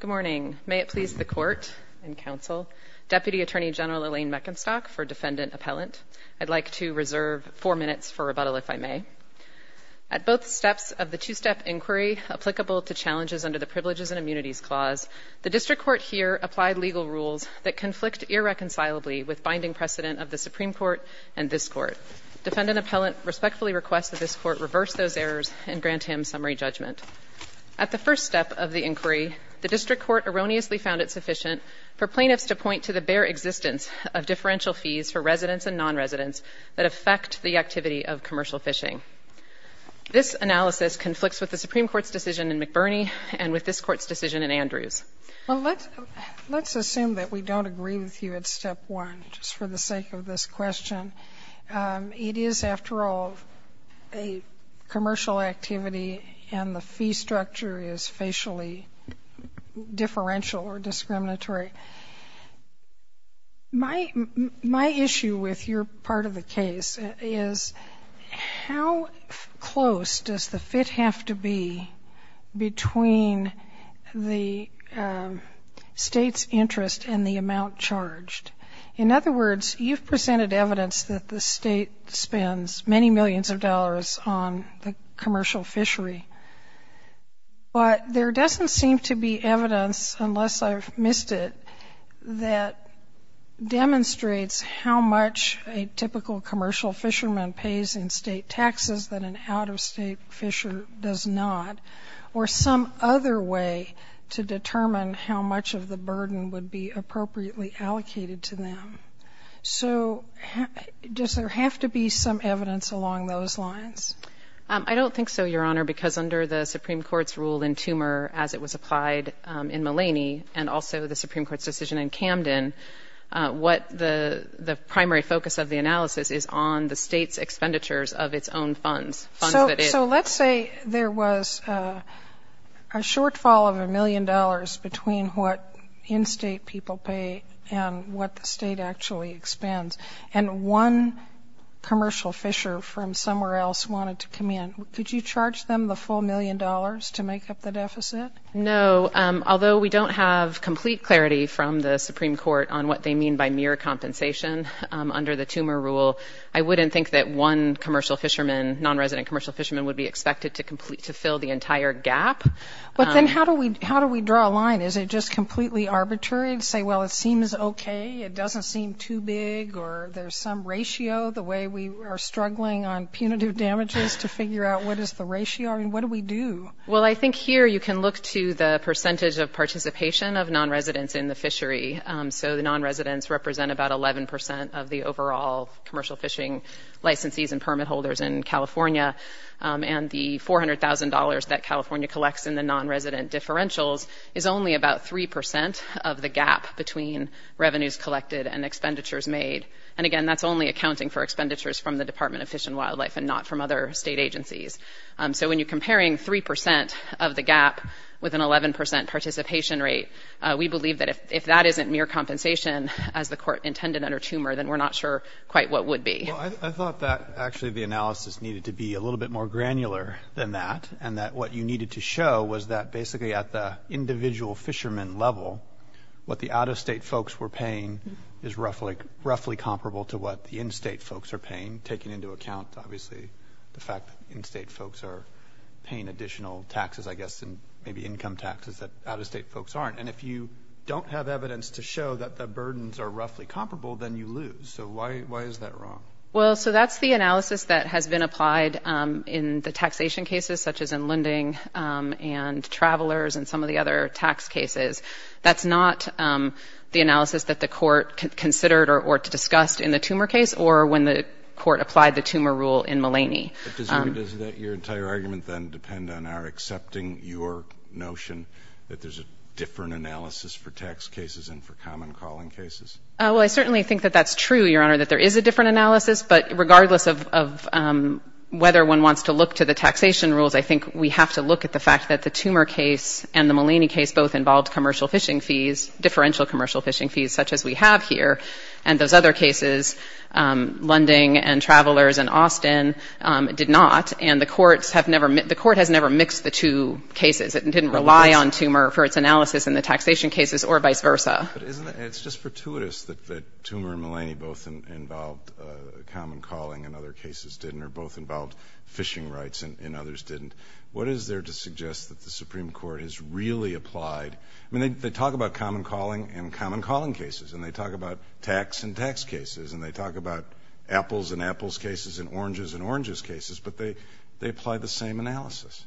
Good morning. May it please the Court and Council, Deputy Attorney General Elaine Meckenstock for Defendant Appellant. I'd like to reserve four minutes for rebuttal if I may. At both steps of the two-step inquiry applicable to challenges under the Privileges and Immunities Clause, the District Court here applied legal rules that conflict irreconcilably with binding precedent of the Supreme Court and this Court. Defendant Appellant respectfully requests that this Court reverse those errors and grant him summary judgment. At the first step of the inquiry, the District Court erroneously found it sufficient for plaintiffs to point to the bare existence of differential fees for residents and non-residents that affect the activity of commercial fishing. This analysis conflicts with the Supreme Court's decision in McBurney and with this Court's decision in Andrews. Let's assume that we don't agree with you at step one, just for the sake of this question. It is, after all, a commercial activity and the fee structure is facially differential or discriminatory. My issue with your part of the case is how close does the fit have to be between the State's interest and the amount charged? In other words, you've presented evidence that the State spends many millions of dollars on the commercial fishery, but there doesn't seem to be evidence, unless I've missed it, that demonstrates how much a typical commercial fisherman pays in State taxes that an out-of-State fisher does not, or some other way to determine how much of the burden would be appropriately allocated to them. So does there have to be some evidence along those lines? I don't think so, Your Honor, because under the Supreme Court's rule in Toomer, as it was applied in Mulaney, and also the Supreme Court's decision in Camden, what the primary focus of the analysis is on the State's expenditures of its own funds. So let's say there was a shortfall of a million dollars between what in-State people pay and what the State actually expends, and one commercial fisher from somewhere else wanted to come in. Could you charge them the full million dollars to make up the deficit? No. Although we don't have complete clarity from the Supreme Court on what they mean by mere compensation under the Toomer rule, I wouldn't think that one commercial fisherman, non-resident commercial fisherman, would be expected to fill the entire gap. But then how do we draw a line? Is it just completely arbitrary to say, well, it seems okay, it doesn't seem too big, or there's some ratio, the way we are punitive damages, to figure out what is the ratio? I mean, what do we do? Well, I think here you can look to the percentage of participation of non-residents in the fishery. So the non-residents represent about 11% of the overall commercial fishing licensees and permit holders in California, and the $400,000 that California collects in the non-resident differentials is only about 3% of the gap between revenues collected and expenditures made. And again, that's only accounting for expenditures from the Department of Fish and Wildlife and not from other state agencies. So when you're comparing 3% of the gap with an 11% participation rate, we believe that if that isn't mere compensation, as the court intended under Toomer, then we're not sure quite what would be. Well, I thought that actually the analysis needed to be a little bit more granular than that, and that what you needed to show was that basically at the individual fisherman level, what the out-of-state folks were paying is roughly comparable to what the in-state folks are paying, taking into account, obviously, the fact that in-state folks are paying additional taxes, I guess, and maybe income taxes that out-of-state folks aren't. And if you don't have evidence to show that the burdens are roughly comparable, then you lose. So why is that wrong? Well, so that's the analysis that has been applied in the taxation cases, such as in lending and travelers and some of the other tax cases. That's not the analysis that the court considered or discussed in the Toomer case or when the court applied the Toomer rule in Mullaney. But doesn't your entire argument then depend on our accepting your notion that there's a different analysis for tax cases and for common calling cases? Well, I certainly think that that's true, Your Honor, that there is a different analysis. But regardless of whether one wants to look to the taxation rules, I think we have to look at the fact that the Toomer case and the Mullaney case both involved commercial fishing fees, differential commercial fishing fees, such as we have here. And those other cases, lending and travelers and Austin, did not. And the court has never mixed the two cases. It didn't rely on Toomer for its analysis in the taxation cases or vice versa. But isn't it just fortuitous that Toomer and Mullaney both involved common calling and other cases didn't, or both involved fishing rights and others didn't? What is there to suggest that the Supreme Court has really applied? I mean, they talk about common calling and common calling cases, and they talk about tax and tax cases, and they talk about apples and apples cases and oranges and oranges cases, but they apply the same analysis.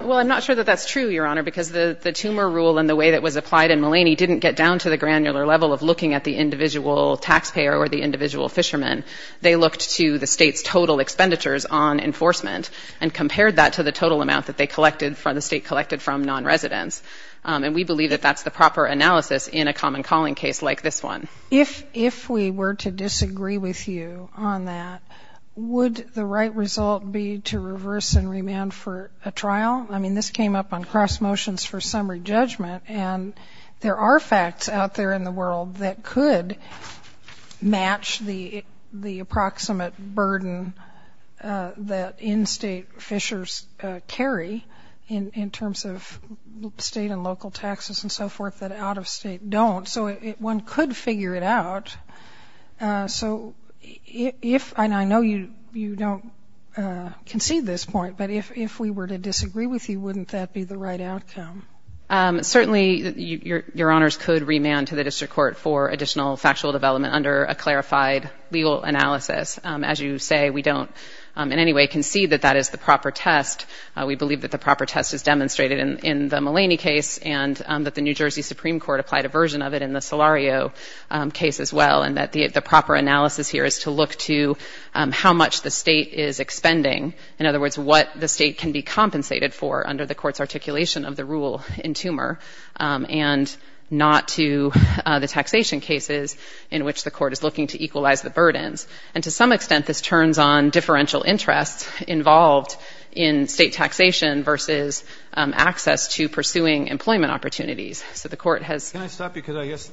Well, I'm not sure that that's true, Your Honor, because the Toomer rule and the way that was applied in Mullaney didn't get down to the granular level of looking at the individual taxpayer or the individual fisherman. They looked to the state's total expenditures on enforcement and compared that to the total amount that they collected, the state collected from nonresidents. And we believe that that's the proper analysis in a common calling case like this one. If we were to disagree with you on that, would the right result be to reverse and remand for a trial? I mean, this came up on cross motions for summary judgment, and there are facts out there in the world that could match the approximate burden that in-state fishers carry in terms of state and local taxes and so forth that out-of-state don't. So one could figure it out. So if, and I know you don't concede this point, but if we were to disagree with you, wouldn't that be the right outcome? Certainly, Your Honor's could remand to the district court for additional factual development under a clarified legal analysis. As you say, we don't in any way concede that that is the proper test. We believe that the proper test is demonstrated in the Mullaney case and that the New Jersey Supreme Court applied a version of it in the Solario case as well, and that the proper analysis here is to look to how much the state is expending. In other words, what the state can be compensated for under the court's articulation of the rule in TUMOR and not to the taxation cases in which the court is looking to equalize the burdens. And to some extent, this turns on differential interests involved in state taxation versus access to pursuing employment opportunities. So the court has... Can I stop you because I guess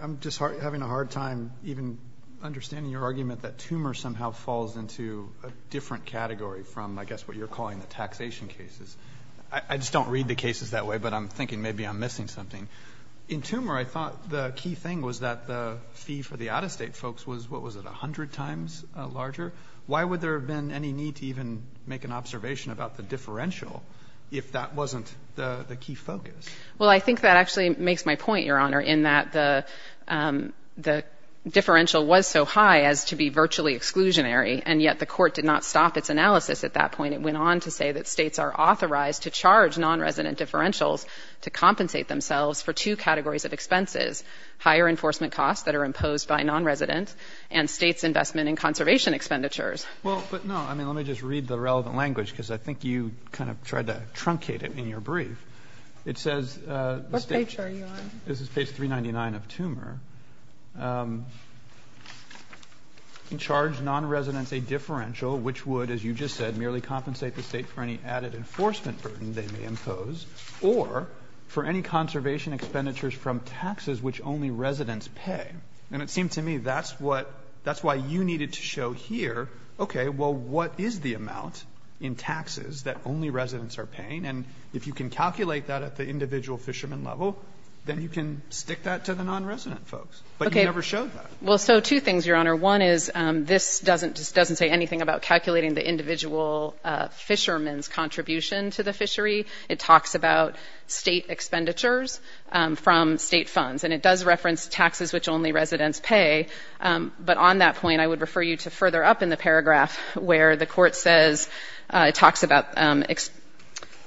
I'm just having a hard time even understanding your argument that TUMOR somehow falls into a different category from, I guess, what you're calling the taxation cases. I just don't read the cases that way, but I'm thinking maybe I'm missing something. In TUMOR, I thought the key thing was that the fee for the out-of-state folks was, what was it, a hundred times larger. Why would there have been any need to even make an observation about the differential if that wasn't the key focus? Well, I think that actually makes my point, Your Honor, in that the differential was so high as to be virtually exclusionary, and yet the court did not stop its analysis at that point. It went on to say that states are authorized to charge non-resident differentials to compensate themselves for two categories of expenses, higher enforcement costs that are imposed by non-residents and states' investment in conservation expenditures. Well, but no, I mean, let me just read the relevant language because I think you kind of tried to truncate it in your brief. It says... What page are you on? This is page 399 of TUMOR. In charge, non-residents a differential, which would, as you just said, merely compensate the state for any added enforcement burden they may impose, or for any conservation expenditures from taxes which only residents pay. And it seemed to me that's why you needed to show here, okay, well, what is the amount in taxes that only residents are paying? And if you can calculate that at the individual fisherman level, then you can stick that to the non-resident folks, but you never showed that. Well, so two things, Your Honor. One is this doesn't say anything about calculating the individual fisherman's contribution to the fishery. It talks about state expenditures from state funds, and it does reference taxes which only residents pay. But on that point, I would refer you to further up in the paragraph where the court says, it talks about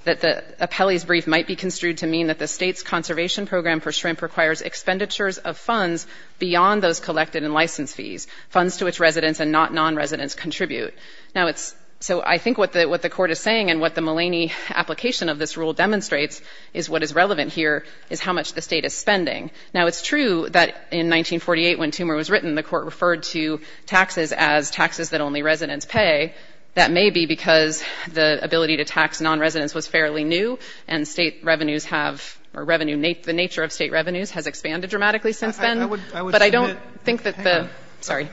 that the appellee's brief might be construed to mean that the state's conservation program for shrimp requires expenditures of funds beyond those collected in license fees, funds to which residents and not non-residents contribute. Now, it's, so I think what the court is saying and what the Mulaney application of this rule demonstrates is what is relevant here is how much the state is spending. Now, it's true that in 1948, when TUMOR was written, the court referred to taxes as taxes that only residents pay. That may be because the ability to tax non-residents was fairly new, and state revenues have, or revenue, the nature of state revenues has expanded dramatically since then. But I don't think that the, sorry,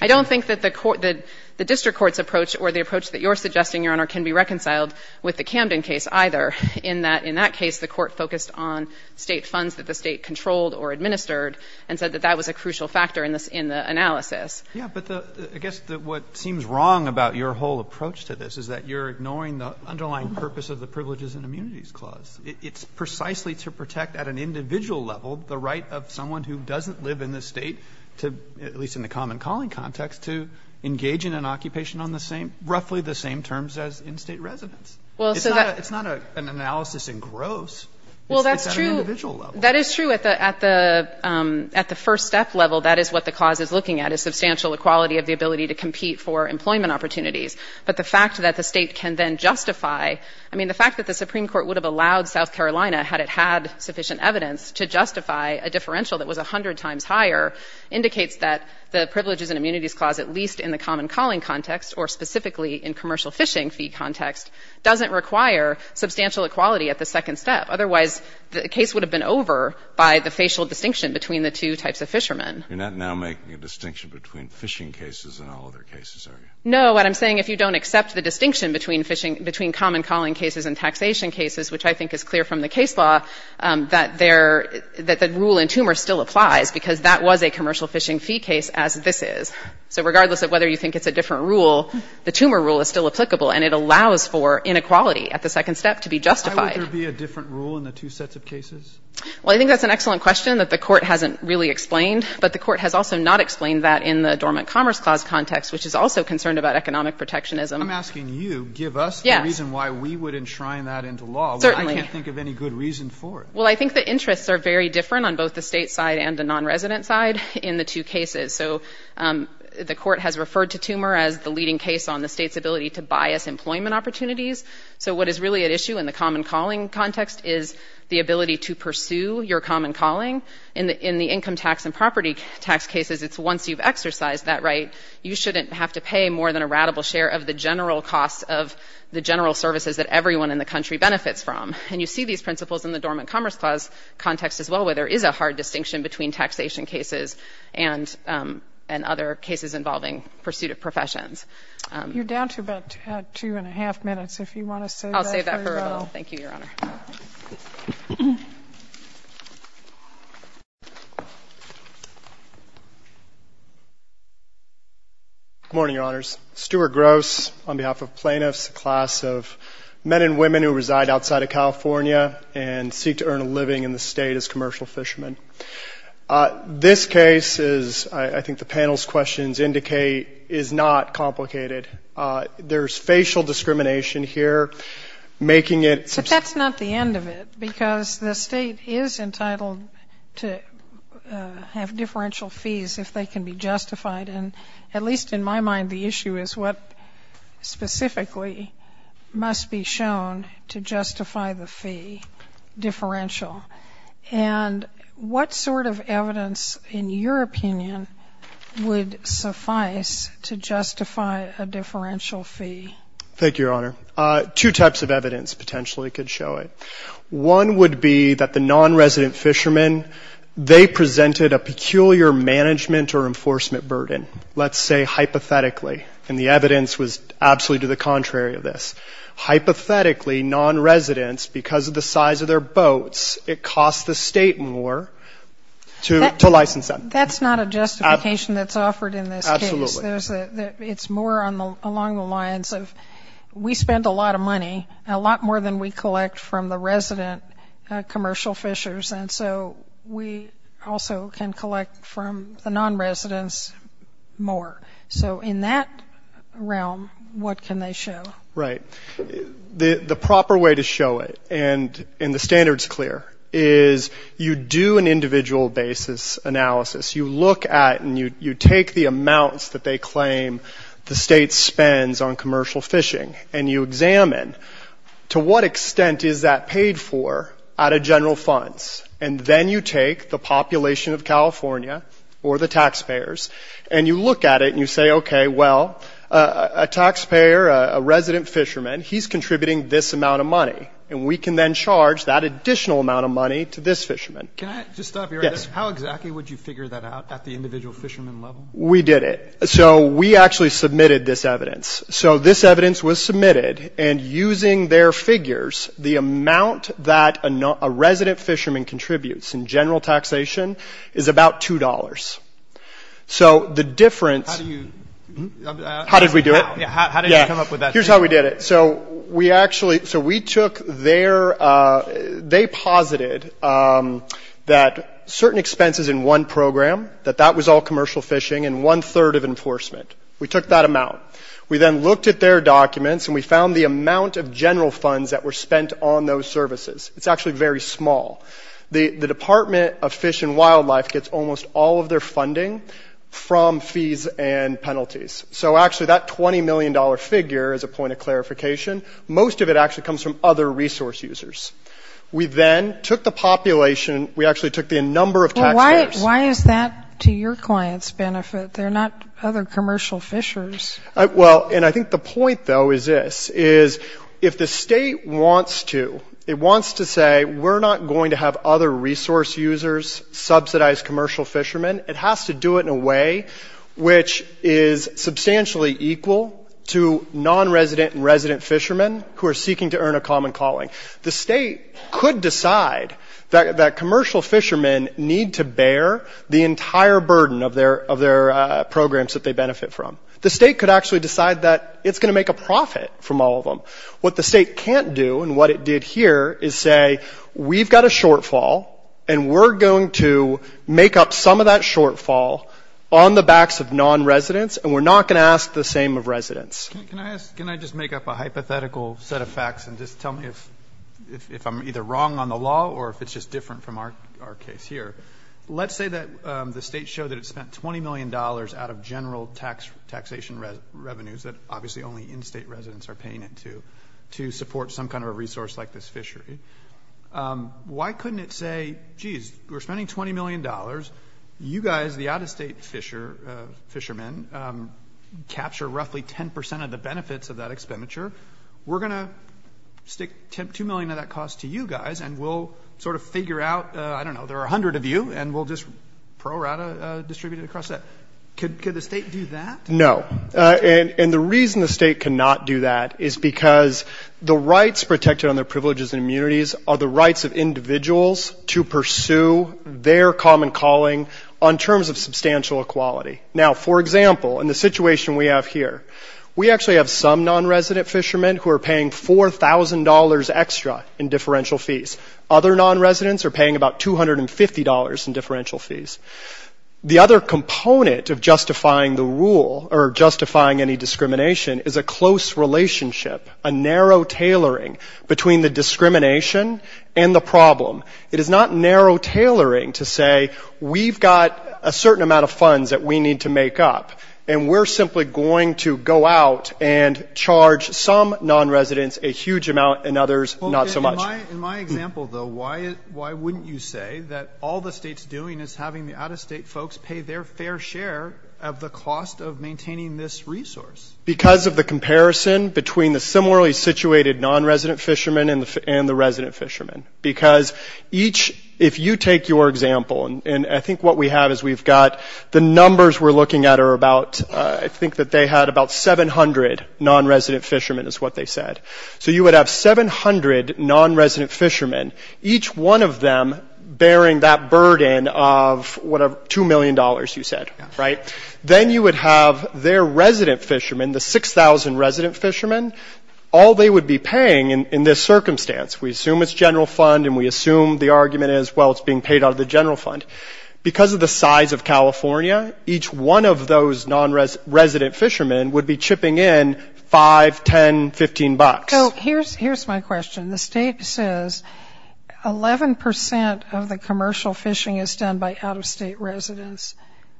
I don't think that the district court's approach or the approach that you're suggesting, Your Honor, can be reconciled with the Camden case either, in that in that case the court focused on state funds that the state controlled or administered and said that that was a crucial factor in the analysis. But I guess what seems wrong about your whole approach to this is that you're ignoring the underlying purpose of the Privileges and Immunities Clause. It's precisely to protect at an individual level the right of someone who doesn't live in the state to, at least in the common calling context, to engage in an occupation on the same, roughly the same terms as in-state residents. Well, so that It's not an analysis in gross. It's at an individual level. That is true at the first step level. That is what the clause is looking at, a substantial equality of the ability to compete for employment opportunities. But the fact that the state can then justify, I mean, the fact that the Supreme Court would have allowed South Carolina, had it had sufficient evidence, to justify a differential that was a hundred times higher indicates that the Privileges and Immunities Clause, at least in the common calling context or specifically in commercial fishing fee context, doesn't require substantial equality at the second step. Otherwise, the case would have been over by the facial distinction between the two types of fishermen. You're not now making a distinction between fishing cases and all other cases, are you? No. What I'm saying, if you don't accept the distinction between fishing, between common calling cases and taxation cases, which I think is clear from the case law, that there — that the rule in TUMOR still applies, because that was a commercial fishing fee case as this is. So regardless of whether you think it's a different rule, the TUMOR rule is still applicable, and it allows for inequality at the second step to be justified. Why would there be a different rule in the two sets of cases? Well, I think that's an excellent question that the Court hasn't really explained, but the Court has also not explained that in the Dormant Commerce Clause context, which is also concerned about economic protectionism. I'm asking you, give us the reason why we would enshrine that into law. Certainly. I can't think of any good reason for it. Well, I think the interests are very different on both the state side and the nonresident side in the two cases. So the Court has referred to TUMOR as the leading case on the state's ability to bias employment opportunities. So what is really at issue in the common calling context is the ability to pursue your common calling. In the income tax and property tax cases, it's once you've exercised that right, you shouldn't have to pay more than a ratable share of the general costs of the general services that everyone in the country benefits from. And you see these principles in the Dormant Commerce Clause context as well, where there is a hard distinction between taxation cases and other cases involving pursuit of professions. You're down to about two-and-a-half minutes, if you want to save that for your role. Good morning, Your Honors. Stuart Gross on behalf of plaintiffs, a class of men and women who reside outside of California and seek to earn a living in the state as commercial fishermen. This case, as I think the panel's questions indicate, is not complicated. There's facial discrimination here, making it So that's not the end of it, because the State is entitled to have differential fees if they can be justified. And at least in my mind, the issue is what specifically must be shown to justify the fee, differential. And what sort of evidence, in your opinion, would suffice to justify a differential fee? Thank you, Your Honor. Two types of evidence potentially could show it. One would be that the nonresident fishermen, they presented a peculiar management or enforcement burden, let's say hypothetically. And the evidence was absolutely to the contrary of this. Hypothetically, nonresidents, because of the size of their boats, it costs the State more to license them. That's not a justification that's offered in this case. Absolutely. It's more along the lines of we spend a lot of money, a lot more than we collect from the resident commercial fishers. And so we also can collect from the nonresidents more. So in that realm, what can they show? Right. The proper way to show it, and the standard's clear, is you do an individual basis analysis. You look at and you take the amounts that they claim the State spends on commercial fishing, and you examine to what extent is that paid for out of general funds. And then you take the population of California or the taxpayers, and you look at it and you say, okay, well, a taxpayer, a resident fisherman, he's contributing this amount of money. And we can then charge that additional amount of money to this fisherman. Can I just stop you right there? Yes. How exactly would you figure that out at the individual fisherman level? We did it. So we actually submitted this evidence. So this evidence was submitted, and using their figures, the amount that a resident fisherman contributes in general taxation is about $2. So the difference... How do you... How did we do it? Yeah, how did you come up with that? This is how we did it. So we actually, so we took their, they posited that certain expenses in one program, that that was all commercial fishing and one third of enforcement. We took that amount. We then looked at their documents and we found the amount of general funds that were spent on those services. It's actually very small. The Department of Fish and Wildlife gets almost all of their funding from fees and penalties. So actually that $20 million figure is a point of clarification. Most of it actually comes from other resource users. We then took the population, we actually took the number of taxpayers. Well, why is that to your client's benefit? They're not other commercial fishers. Well, and I think the point, though, is this, is if the state wants to, it wants to say we're not going to have other resource users subsidize commercial fishermen. It has to do it in a way which is substantially equal to non-resident and resident fishermen who are seeking to earn a common calling. The state could decide that commercial fishermen need to bear the entire burden of their programs that they benefit from. The state could actually decide that it's going to make a profit from all of them. What the state can't do and what it did here is say we've got a shortfall and we're going to make up some of that shortfall on the backs of non-residents and we're not going to ask the same of residents. Can I just make up a hypothetical set of facts and just tell me if I'm either wrong on the law or if it's just different from our case here? Let's say that the state showed that it spent $20 million out of general taxation revenues that obviously only in-state residents are paying into to support some kind of a resource like this fishery. Why couldn't it say, geez, we're spending $20 million. You guys, the out-of-state fishermen, capture roughly 10% of the benefits of that expenditure. We're going to stick $2 million of that cost to you guys and we'll sort of figure out, I don't know, there are 100 of you and we'll just pro rata distribute it across that. Could the state do that? No. And the reason the state cannot do that is because the rights protected on their privileges and immunities are the rights of individuals to pursue their common calling on terms of substantial equality. Now, for example, in the situation we have here, we actually have some non-resident fishermen who are paying $4,000 extra in differential fees. Other non-residents are paying about $250 in differential fees. The other component of justifying the rule or justifying any discrimination is a close relationship, a narrow tailoring between the discrimination and the we've got a certain amount of funds that we need to make up. And we're simply going to go out and charge some non-residents a huge amount and others not so much. In my example, though, why wouldn't you say that all the state's doing is having the out-of-state folks pay their fair share of the cost of maintaining this resource? Because of the comparison between the similarly situated non-resident fishermen and the resident fishermen. Because each, if you take your example, and I think what we have is we've got the numbers we're looking at are about, I think that they had about 700 non-resident fishermen is what they said. So you would have 700 non-resident fishermen, each one of them bearing that burden of whatever, $2 million you said, right? Then you would have their resident fishermen, the 6,000 resident fishermen, all they would be paying in this circumstance. We assume it's general fund and we assume the argument is, well, it's being paid out of the general fund. Because of the size of California, each one of those non-resident fishermen would be chipping in $5, $10, $15. So here's my question. The state says 11% of the commercial fishing is done by out-of-state residents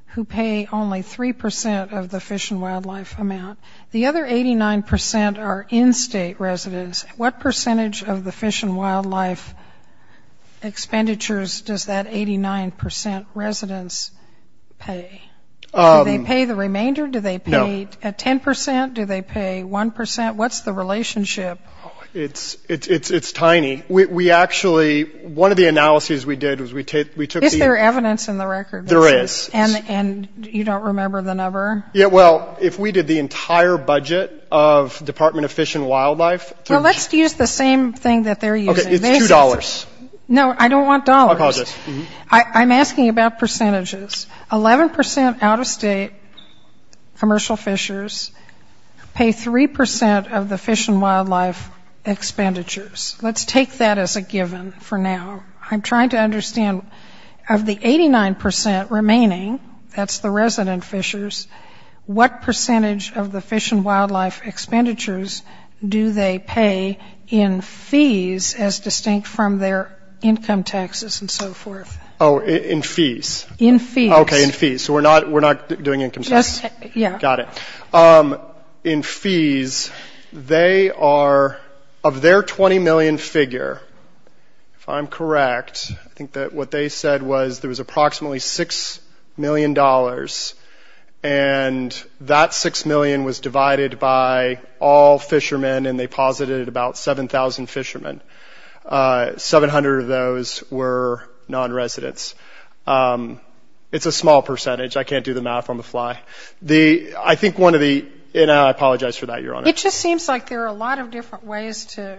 who pay only 3% of the fish and wildlife amount. The other 89% are in-state residents. What percentage of the fish and wildlife expenditures does that 89% residents pay? Do they pay the remainder? Do they pay 10%? Do they pay 1%? What's the relationship? It's tiny. We actually, one of the analyses we did was we took the... Is there evidence in the record? There is. And you don't remember the number? Yeah, well, if we did the entire budget of Department of Fish and Wildlife... Well, let's use the same thing that they're using. Okay. It's $2. No, I don't want dollars. I'm asking about percentages. 11% out-of-state commercial fishers pay 3% of the fish and wildlife expenditures. Let's take that as a given for now. I'm trying to understand, of the 89% remaining, that's the resident fishers, what percentage of the fish and wildlife expenditures do they pay in fees, as distinct from their income taxes and so forth? Oh, in fees. Okay, in fees. So we're not doing income taxes. Got it. In fees, they are, of their $20 million figure, if I'm correct, I think that what they said was there was approximately $6 million, and that $6 million was divided by all fishermen, and they posited about 7,000 fishermen. 700 of those were non-residents. It's a small percentage. I can't do the math on the fly. I think one of the... And I apologize for that, Your Honor. It just seems like there are a lot of different ways to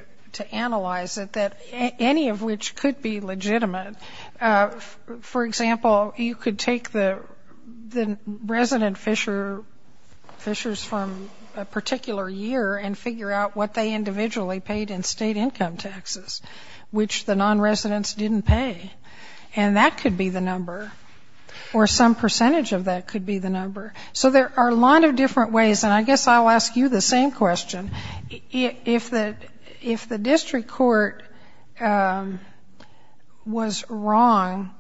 analyze it, any of which could be legitimate. For example, you could take the resident fishers from a particular year and figure out what they individually paid in state income taxes, which the non-residents didn't pay. And that could be the number, or some percentage of that could be the number. So there are a lot of different ways, and I guess I'll ask you the same question. If the district court was wrong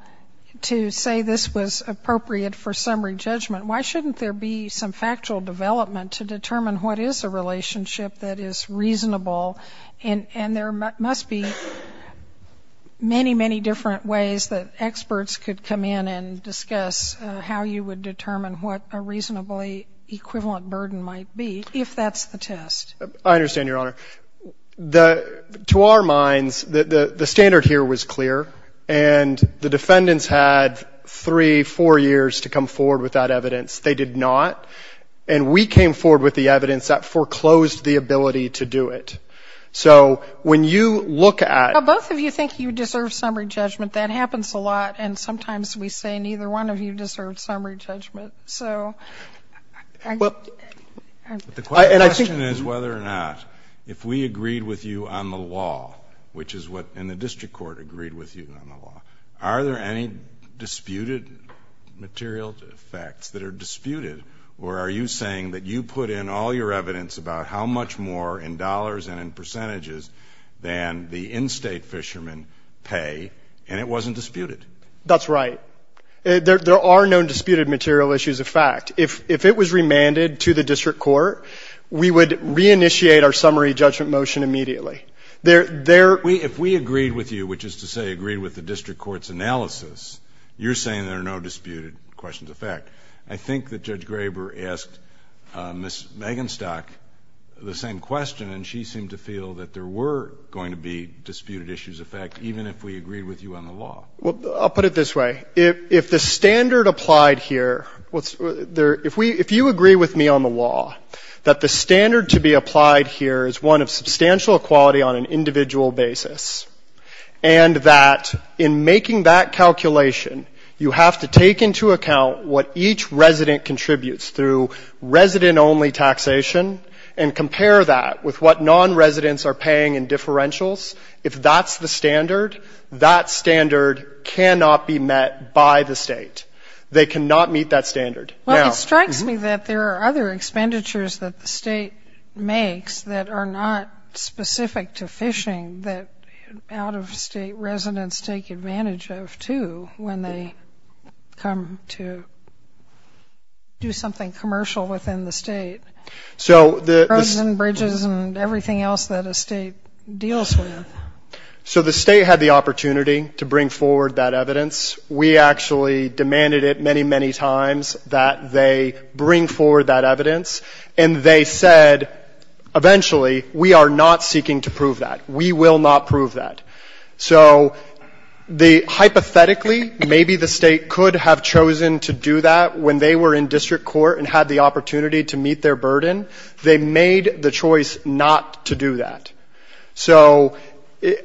to say this was appropriate for summary judgment, why shouldn't there be some factual development to determine what is a relationship that is reasonable? And there must be many, many different ways that experts could come in and discuss how you would determine what a reasonably equivalent burden might be, if that's the test. I understand, Your Honor. To our minds, the standard here was clear, and the defendants had three, four years to come forward with that evidence. They did not. And we came forward with the evidence that foreclosed the ability to do it. So when you look at... Well, both of you think you deserve summary judgment. That happens a lot, and sometimes we say neither one of you deserves summary judgment. So... The question is whether or not, if we agreed with you on the law, which is what the district court agreed with you on the law, are there any disputed material facts that are disputed? Or are you saying that you put in all your evidence about how much more in dollars and in percentages than the in-state fishermen pay, and it wasn't disputed? That's right. There are no disputed material issues of fact. If it was remanded to the district court, we would reinitiate our summary judgment motion immediately. There... If we agreed with you, which is to say agreed with the district court's analysis, you're saying there are no disputed questions of fact. I think that Judge Graber asked Ms. Magenstock the same question, and she seemed to feel that there were going to be disputed issues of fact, even if we agreed with you on the law. Well, I'll put it this way. If the standard applied here... If you agree with me on the law that the standard to be applied here is one of substantial equality on an individual basis, and that in making that calculation, you have to take into account what each resident contributes through resident-only taxation, and compare that with what non-residents are paying in differentials, if that's the standard, that standard cannot be met by the state. They cannot meet that standard. Well, it strikes me that there are other expenditures that the state makes that are not specific to fishing that out-of-state residents take advantage of, too, when they come to do something commercial within the state. Roads and bridges and everything else that a state deals with. So the state had the opportunity to bring forward that evidence. We actually demanded it many, many times that they bring forward that evidence, and they said, eventually, we are not seeking to prove that. We will not prove that. So hypothetically, maybe the state could have chosen to do that when they were in district court and had the opportunity to meet their burden. They made the choice not to do that. So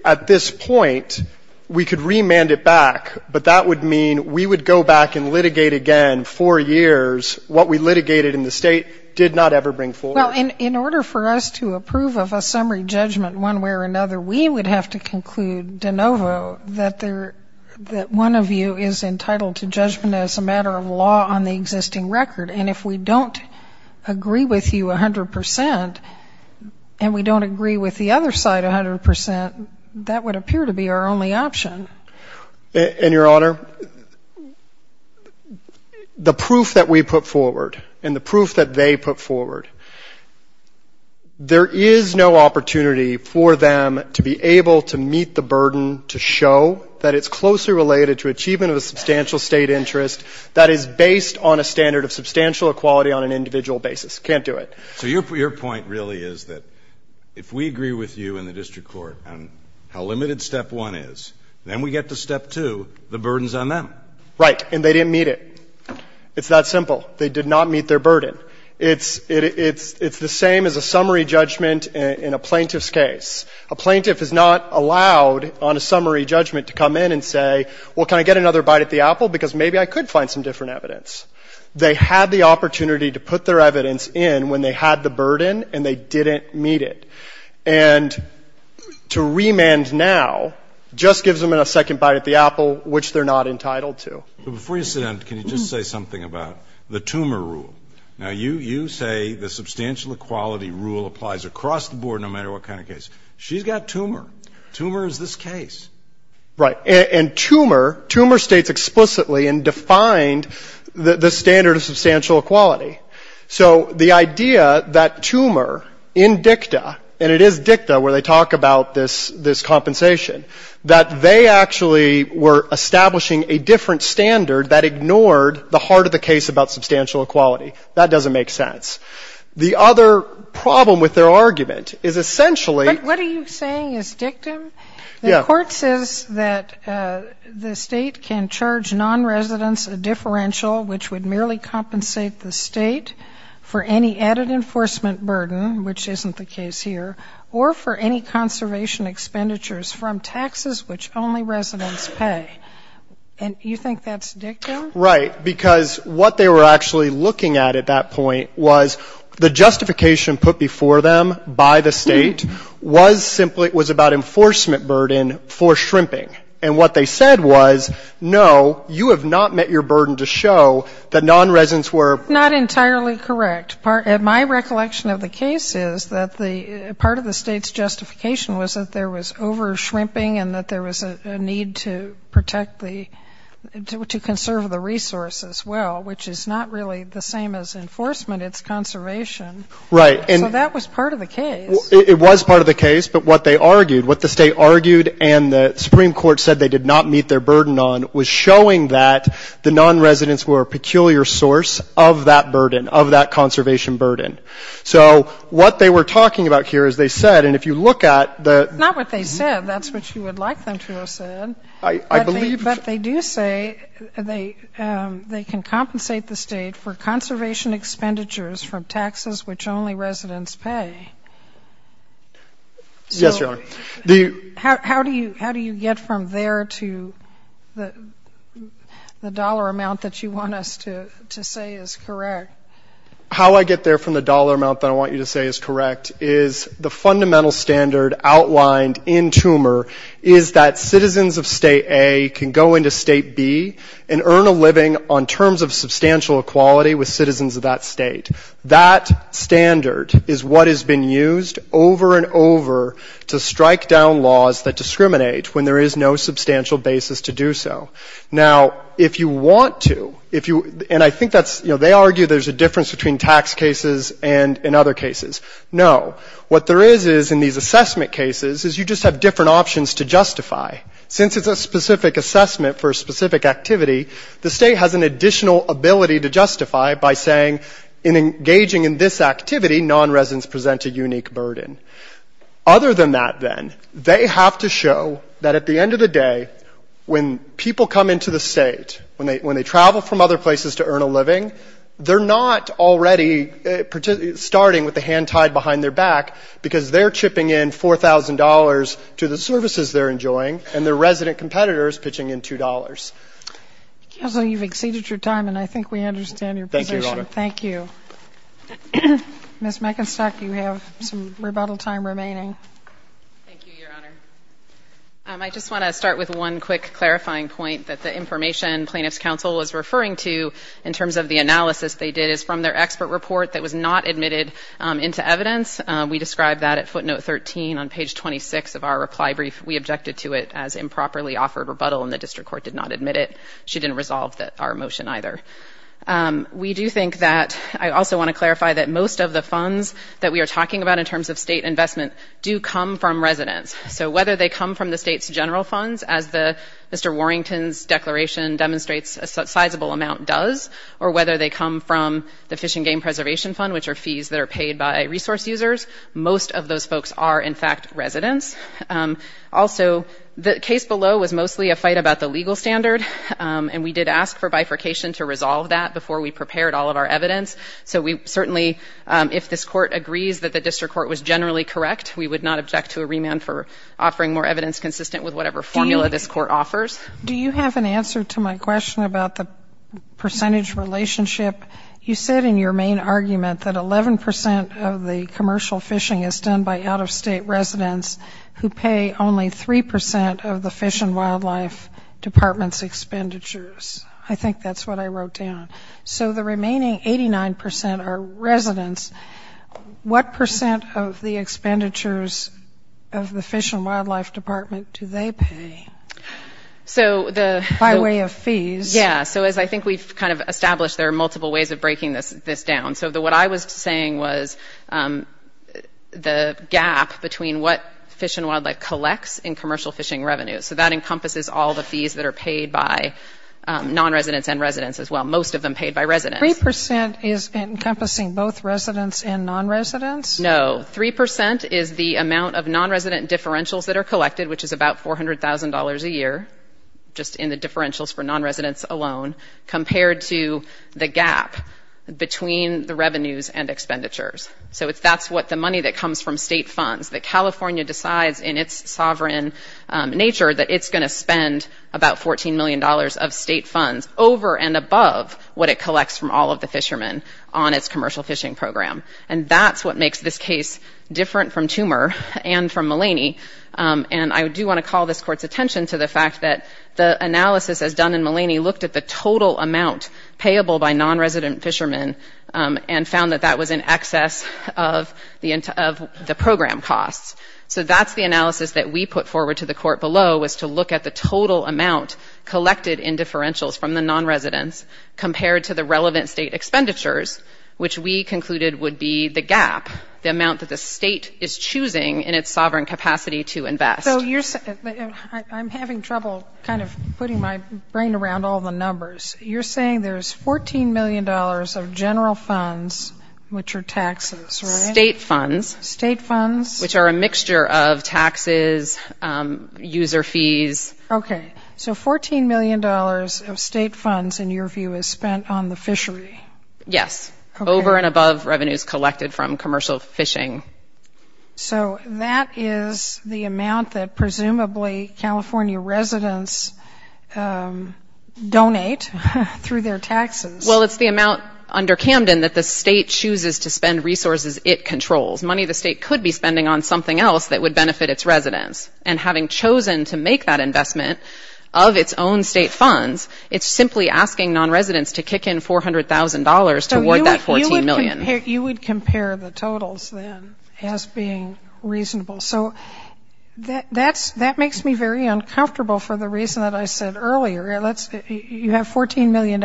at this point, we could remand it back, but that would mean we would go back and litigate again four years what we litigated in the state, did not ever bring forward. Well, in order for us to approve of a summary judgment one way or another, we would have to conclude de novo that one of you is entitled to judgment as a matter of law on the existing record, and if we don't agree with you 100 percent and we don't agree with the other side 100 percent, that would appear to be our only option. And, Your Honor, the proof that we put forward and the proof that they put forward, there is no opportunity for them to be able to meet the burden to show that it's closely related to achievement of a substantial state interest that is based on a standard of substantial equality on an individual basis. Can't do it. So your point really is that if we agree with you in the district court on how limited Step 1 is, then we get to Step 2, the burdens on them. Right. And they didn't meet it. It's that simple. They did not meet their burden. It's the same as a summary judgment in a plaintiff's case. A plaintiff is not allowed on a summary judgment to come in and say, well, can I get another bite at the apple, because maybe I could find some different evidence. They had the opportunity to put their evidence in when they had the burden and they didn't meet it. And to remand now just gives them a second bite at the apple, which they're not entitled to. But before you sit down, can you just say something about the tumor rule? Now, you say the substantial equality rule applies across the board no matter what kind of case. She's got tumor. Tumor is this case. Right. And tumor states explicitly and defined the standard of substantial equality. So the idea that tumor in dicta, and it is dicta where they talk about this compensation, that they actually were establishing a different standard that ignored the heart of the standard of substantial equality. That doesn't make sense. The other problem with their argument is essentially what are you saying is dictum? Yeah. The court says that the State can charge nonresidents a differential which would merely compensate the State for any added enforcement burden, which isn't the case here, or for any conservation expenditures from taxes which only residents pay. And you think that's dictum? Right. Because what they were actually looking at at that point was the justification put before them by the State was simply it was about enforcement burden for shrimping. And what they said was, no, you have not met your burden to show that nonresidents were. Not entirely correct. My recollection of the case is that the part of the State's justification was that there was a need to protect the, to conserve the resource as well, which is not really the same as enforcement. It's conservation. Right. So that was part of the case. It was part of the case, but what they argued, what the State argued and the Supreme Court said they did not meet their burden on was showing that the nonresidents were a peculiar source of that burden, of that conservation burden. So what they were talking about here is they said, and if you look at the ‑‑ I believe ‑‑ But they do say they can compensate the State for conservation expenditures from taxes which only residents pay. Yes, Your Honor. So how do you get from there to the dollar amount that you want us to say is correct? How I get there from the dollar amount that I want you to say is correct is the fundamental standard outlined in Toomer is that citizens of State A can go into State B and earn a living on terms of substantial equality with citizens of that State. That standard is what has been used over and over to strike down laws that discriminate when there is no substantial basis to do so. Now, if you want to, if you ‑‑ and I think that's, you know, they argue there's a difference between tax cases and in other cases. No. What there is is in these assessment cases is you just have different options to justify. Since it's a specific assessment for a specific activity, the State has an additional ability to justify by saying in engaging in this activity, nonresidents present a unique burden. Other than that, then, they have to show that at the end of the day, when people come into the State, when they travel from other places to earn a living, they're not already starting with the hand tied behind their back, because they're chipping in $4,000 to the services they're enjoying, and their resident competitor is pitching in $2. Counsel, you've exceeded your time, and I think we understand your position. Thank you, Your Honor. Thank you. Ms. Meckenstock, you have some rebuttal time remaining. Thank you, Your Honor. I just want to start with one quick clarifying point that the information Plaintiff's Counsel was referring to in terms of the analysis they did is from their expert report that was not admitted into evidence. We described that at footnote 13 on page 26 of our reply brief. We objected to it as improperly offered rebuttal, and the district court did not admit it. She didn't resolve our motion either. We do think that I also want to clarify that most of the funds that we are talking about in terms of State investment do come from residents. So whether they come from the State's general funds, as Mr. Warrington's declaration demonstrates a sizable amount does, or whether they come from the Fish and Game Preservation Fund, which are fees that are paid by resource users, most of those folks are, in fact, residents. Also, the case below was mostly a fight about the legal standard, and we did ask for bifurcation to resolve that before we prepared all of our evidence. So we certainly, if this court agrees that the district court was generally correct, we would not object to a remand for offering more evidence consistent with whatever formula this court offers. Do you have an answer to my question about the percentage relationship? You said in your main argument that 11 percent of the commercial fishing is done by out-of-state residents who pay only 3 percent of the Fish and Wildlife Department's expenditures. I think that's what I wrote down. So the remaining 89 percent are residents. What percent of the expenditures of the Fish and Wildlife Department do they pay? By way of fees. Yeah. So as I think we've kind of established, there are multiple ways of breaking this down. So what I was saying was the gap between what Fish and Wildlife collects in commercial fishing revenues. So that encompasses all the fees that are paid by non-residents and residents as well, most of them paid by residents. Three percent is encompassing both residents and non-residents? No. Three percent is the amount of non-resident differentials that are collected, which is about $400,000 a year, just in the differentials for non-residents alone, compared to the gap between the revenues and expenditures. So that's what the money that comes from state funds, that California decides in its sovereign nature that it's going to spend about $14 million of state funds over and above what it collects from all of the fishermen on its commercial fishing program. And that's what makes this case different from Toomer and from Mulaney. And I do want to call this Court's attention to the fact that the analysis as done in Mulaney looked at the total amount payable by non-resident fishermen and found that that was in excess of the program costs. So that's the analysis that we put forward to the Court below, was to look at the total amount collected in differentials from the non-residents compared to the relevant state expenditures, which we concluded would be the gap, the amount that the state is choosing in its sovereign capacity to invest. So I'm having trouble kind of putting my brain around all the numbers. You're saying there's $14 million of general funds, which are taxes, right? State funds. State funds. Which are a mixture of taxes, user fees. Okay. So $14 million of state funds, in your view, is spent on the fishery. Yes. Over and above revenues collected from commercial fishing. So that is the amount that presumably California residents donate through their taxes. Well, it's the amount under Camden that the state chooses to spend resources it controls, money the state could be spending on something else that would benefit its residents. And having chosen to make that investment of its own state funds, it's simply asking non-residents to kick in $400,000 toward that $14 million. So you would compare the totals, then, as being reasonable. So that makes me very uncomfortable for the reason that I said earlier. You have $14 million.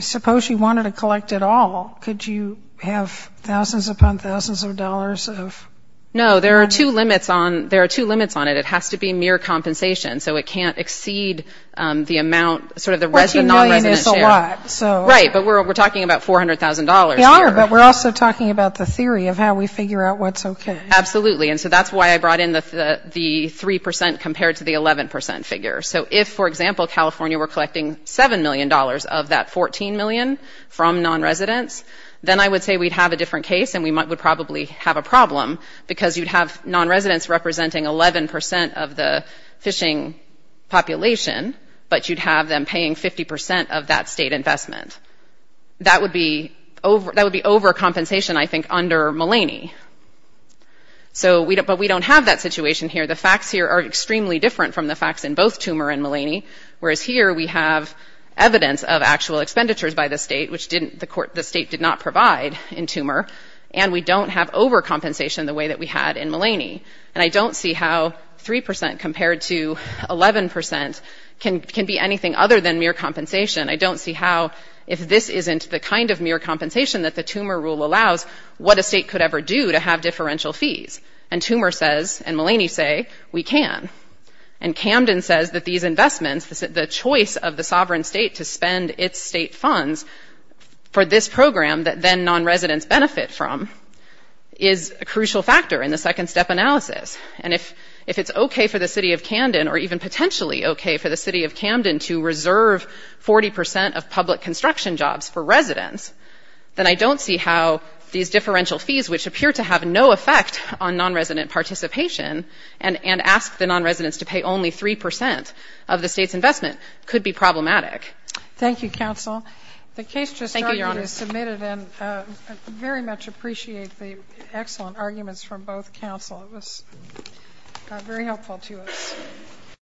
Suppose you wanted to collect it all. Could you have thousands upon thousands of dollars of? No. There are two limits on it. It has to be mere compensation. So it can't exceed the amount, sort of the non-resident share. $14 million is a lot. Right. But we're talking about $400,000 here. We are. But we're also talking about the theory of how we figure out what's okay. Absolutely. And so that's why I brought in the 3% compared to the 11% figure. So if, for example, California were collecting $7 million of that $14 million from non-residents, then I would say we'd have a different case and we would probably have a problem because you'd have non-residents representing 11% of the fishing population, but you'd have them paying 50% of that state investment. That would be overcompensation, I think, under Mulaney. But we don't have that situation here. The facts here are extremely different from the facts in both Toomer and Mulaney, whereas here we have evidence of actual expenditures by the state, which the state did not provide in Toomer, and we don't have overcompensation the way that we had in Mulaney. And I don't see how 3% compared to 11% can be anything other than mere compensation. I don't see how, if this isn't the kind of mere compensation that the Toomer rule allows, what a state could ever do to have differential fees. And Toomer says, and Mulaney say, we can. And Camden says that these investments, the choice of the sovereign state to spend its state funds for this program that then non-residents benefit from, is a crucial factor in the second-step analysis. And if it's okay for the city of Camden, or even potentially okay for the city of Camden, to reserve 40% of public construction jobs for residents, then I don't see how these differential fees, which appear to have no effect on non-resident participation, and ask the non-residents to pay only 3% of the state's investment, could be problematic. Thank you, counsel. The case just argued is submitted. Thank you, Your Honor. And I very much appreciate the excellent arguments from both counsel. It was very helpful to us.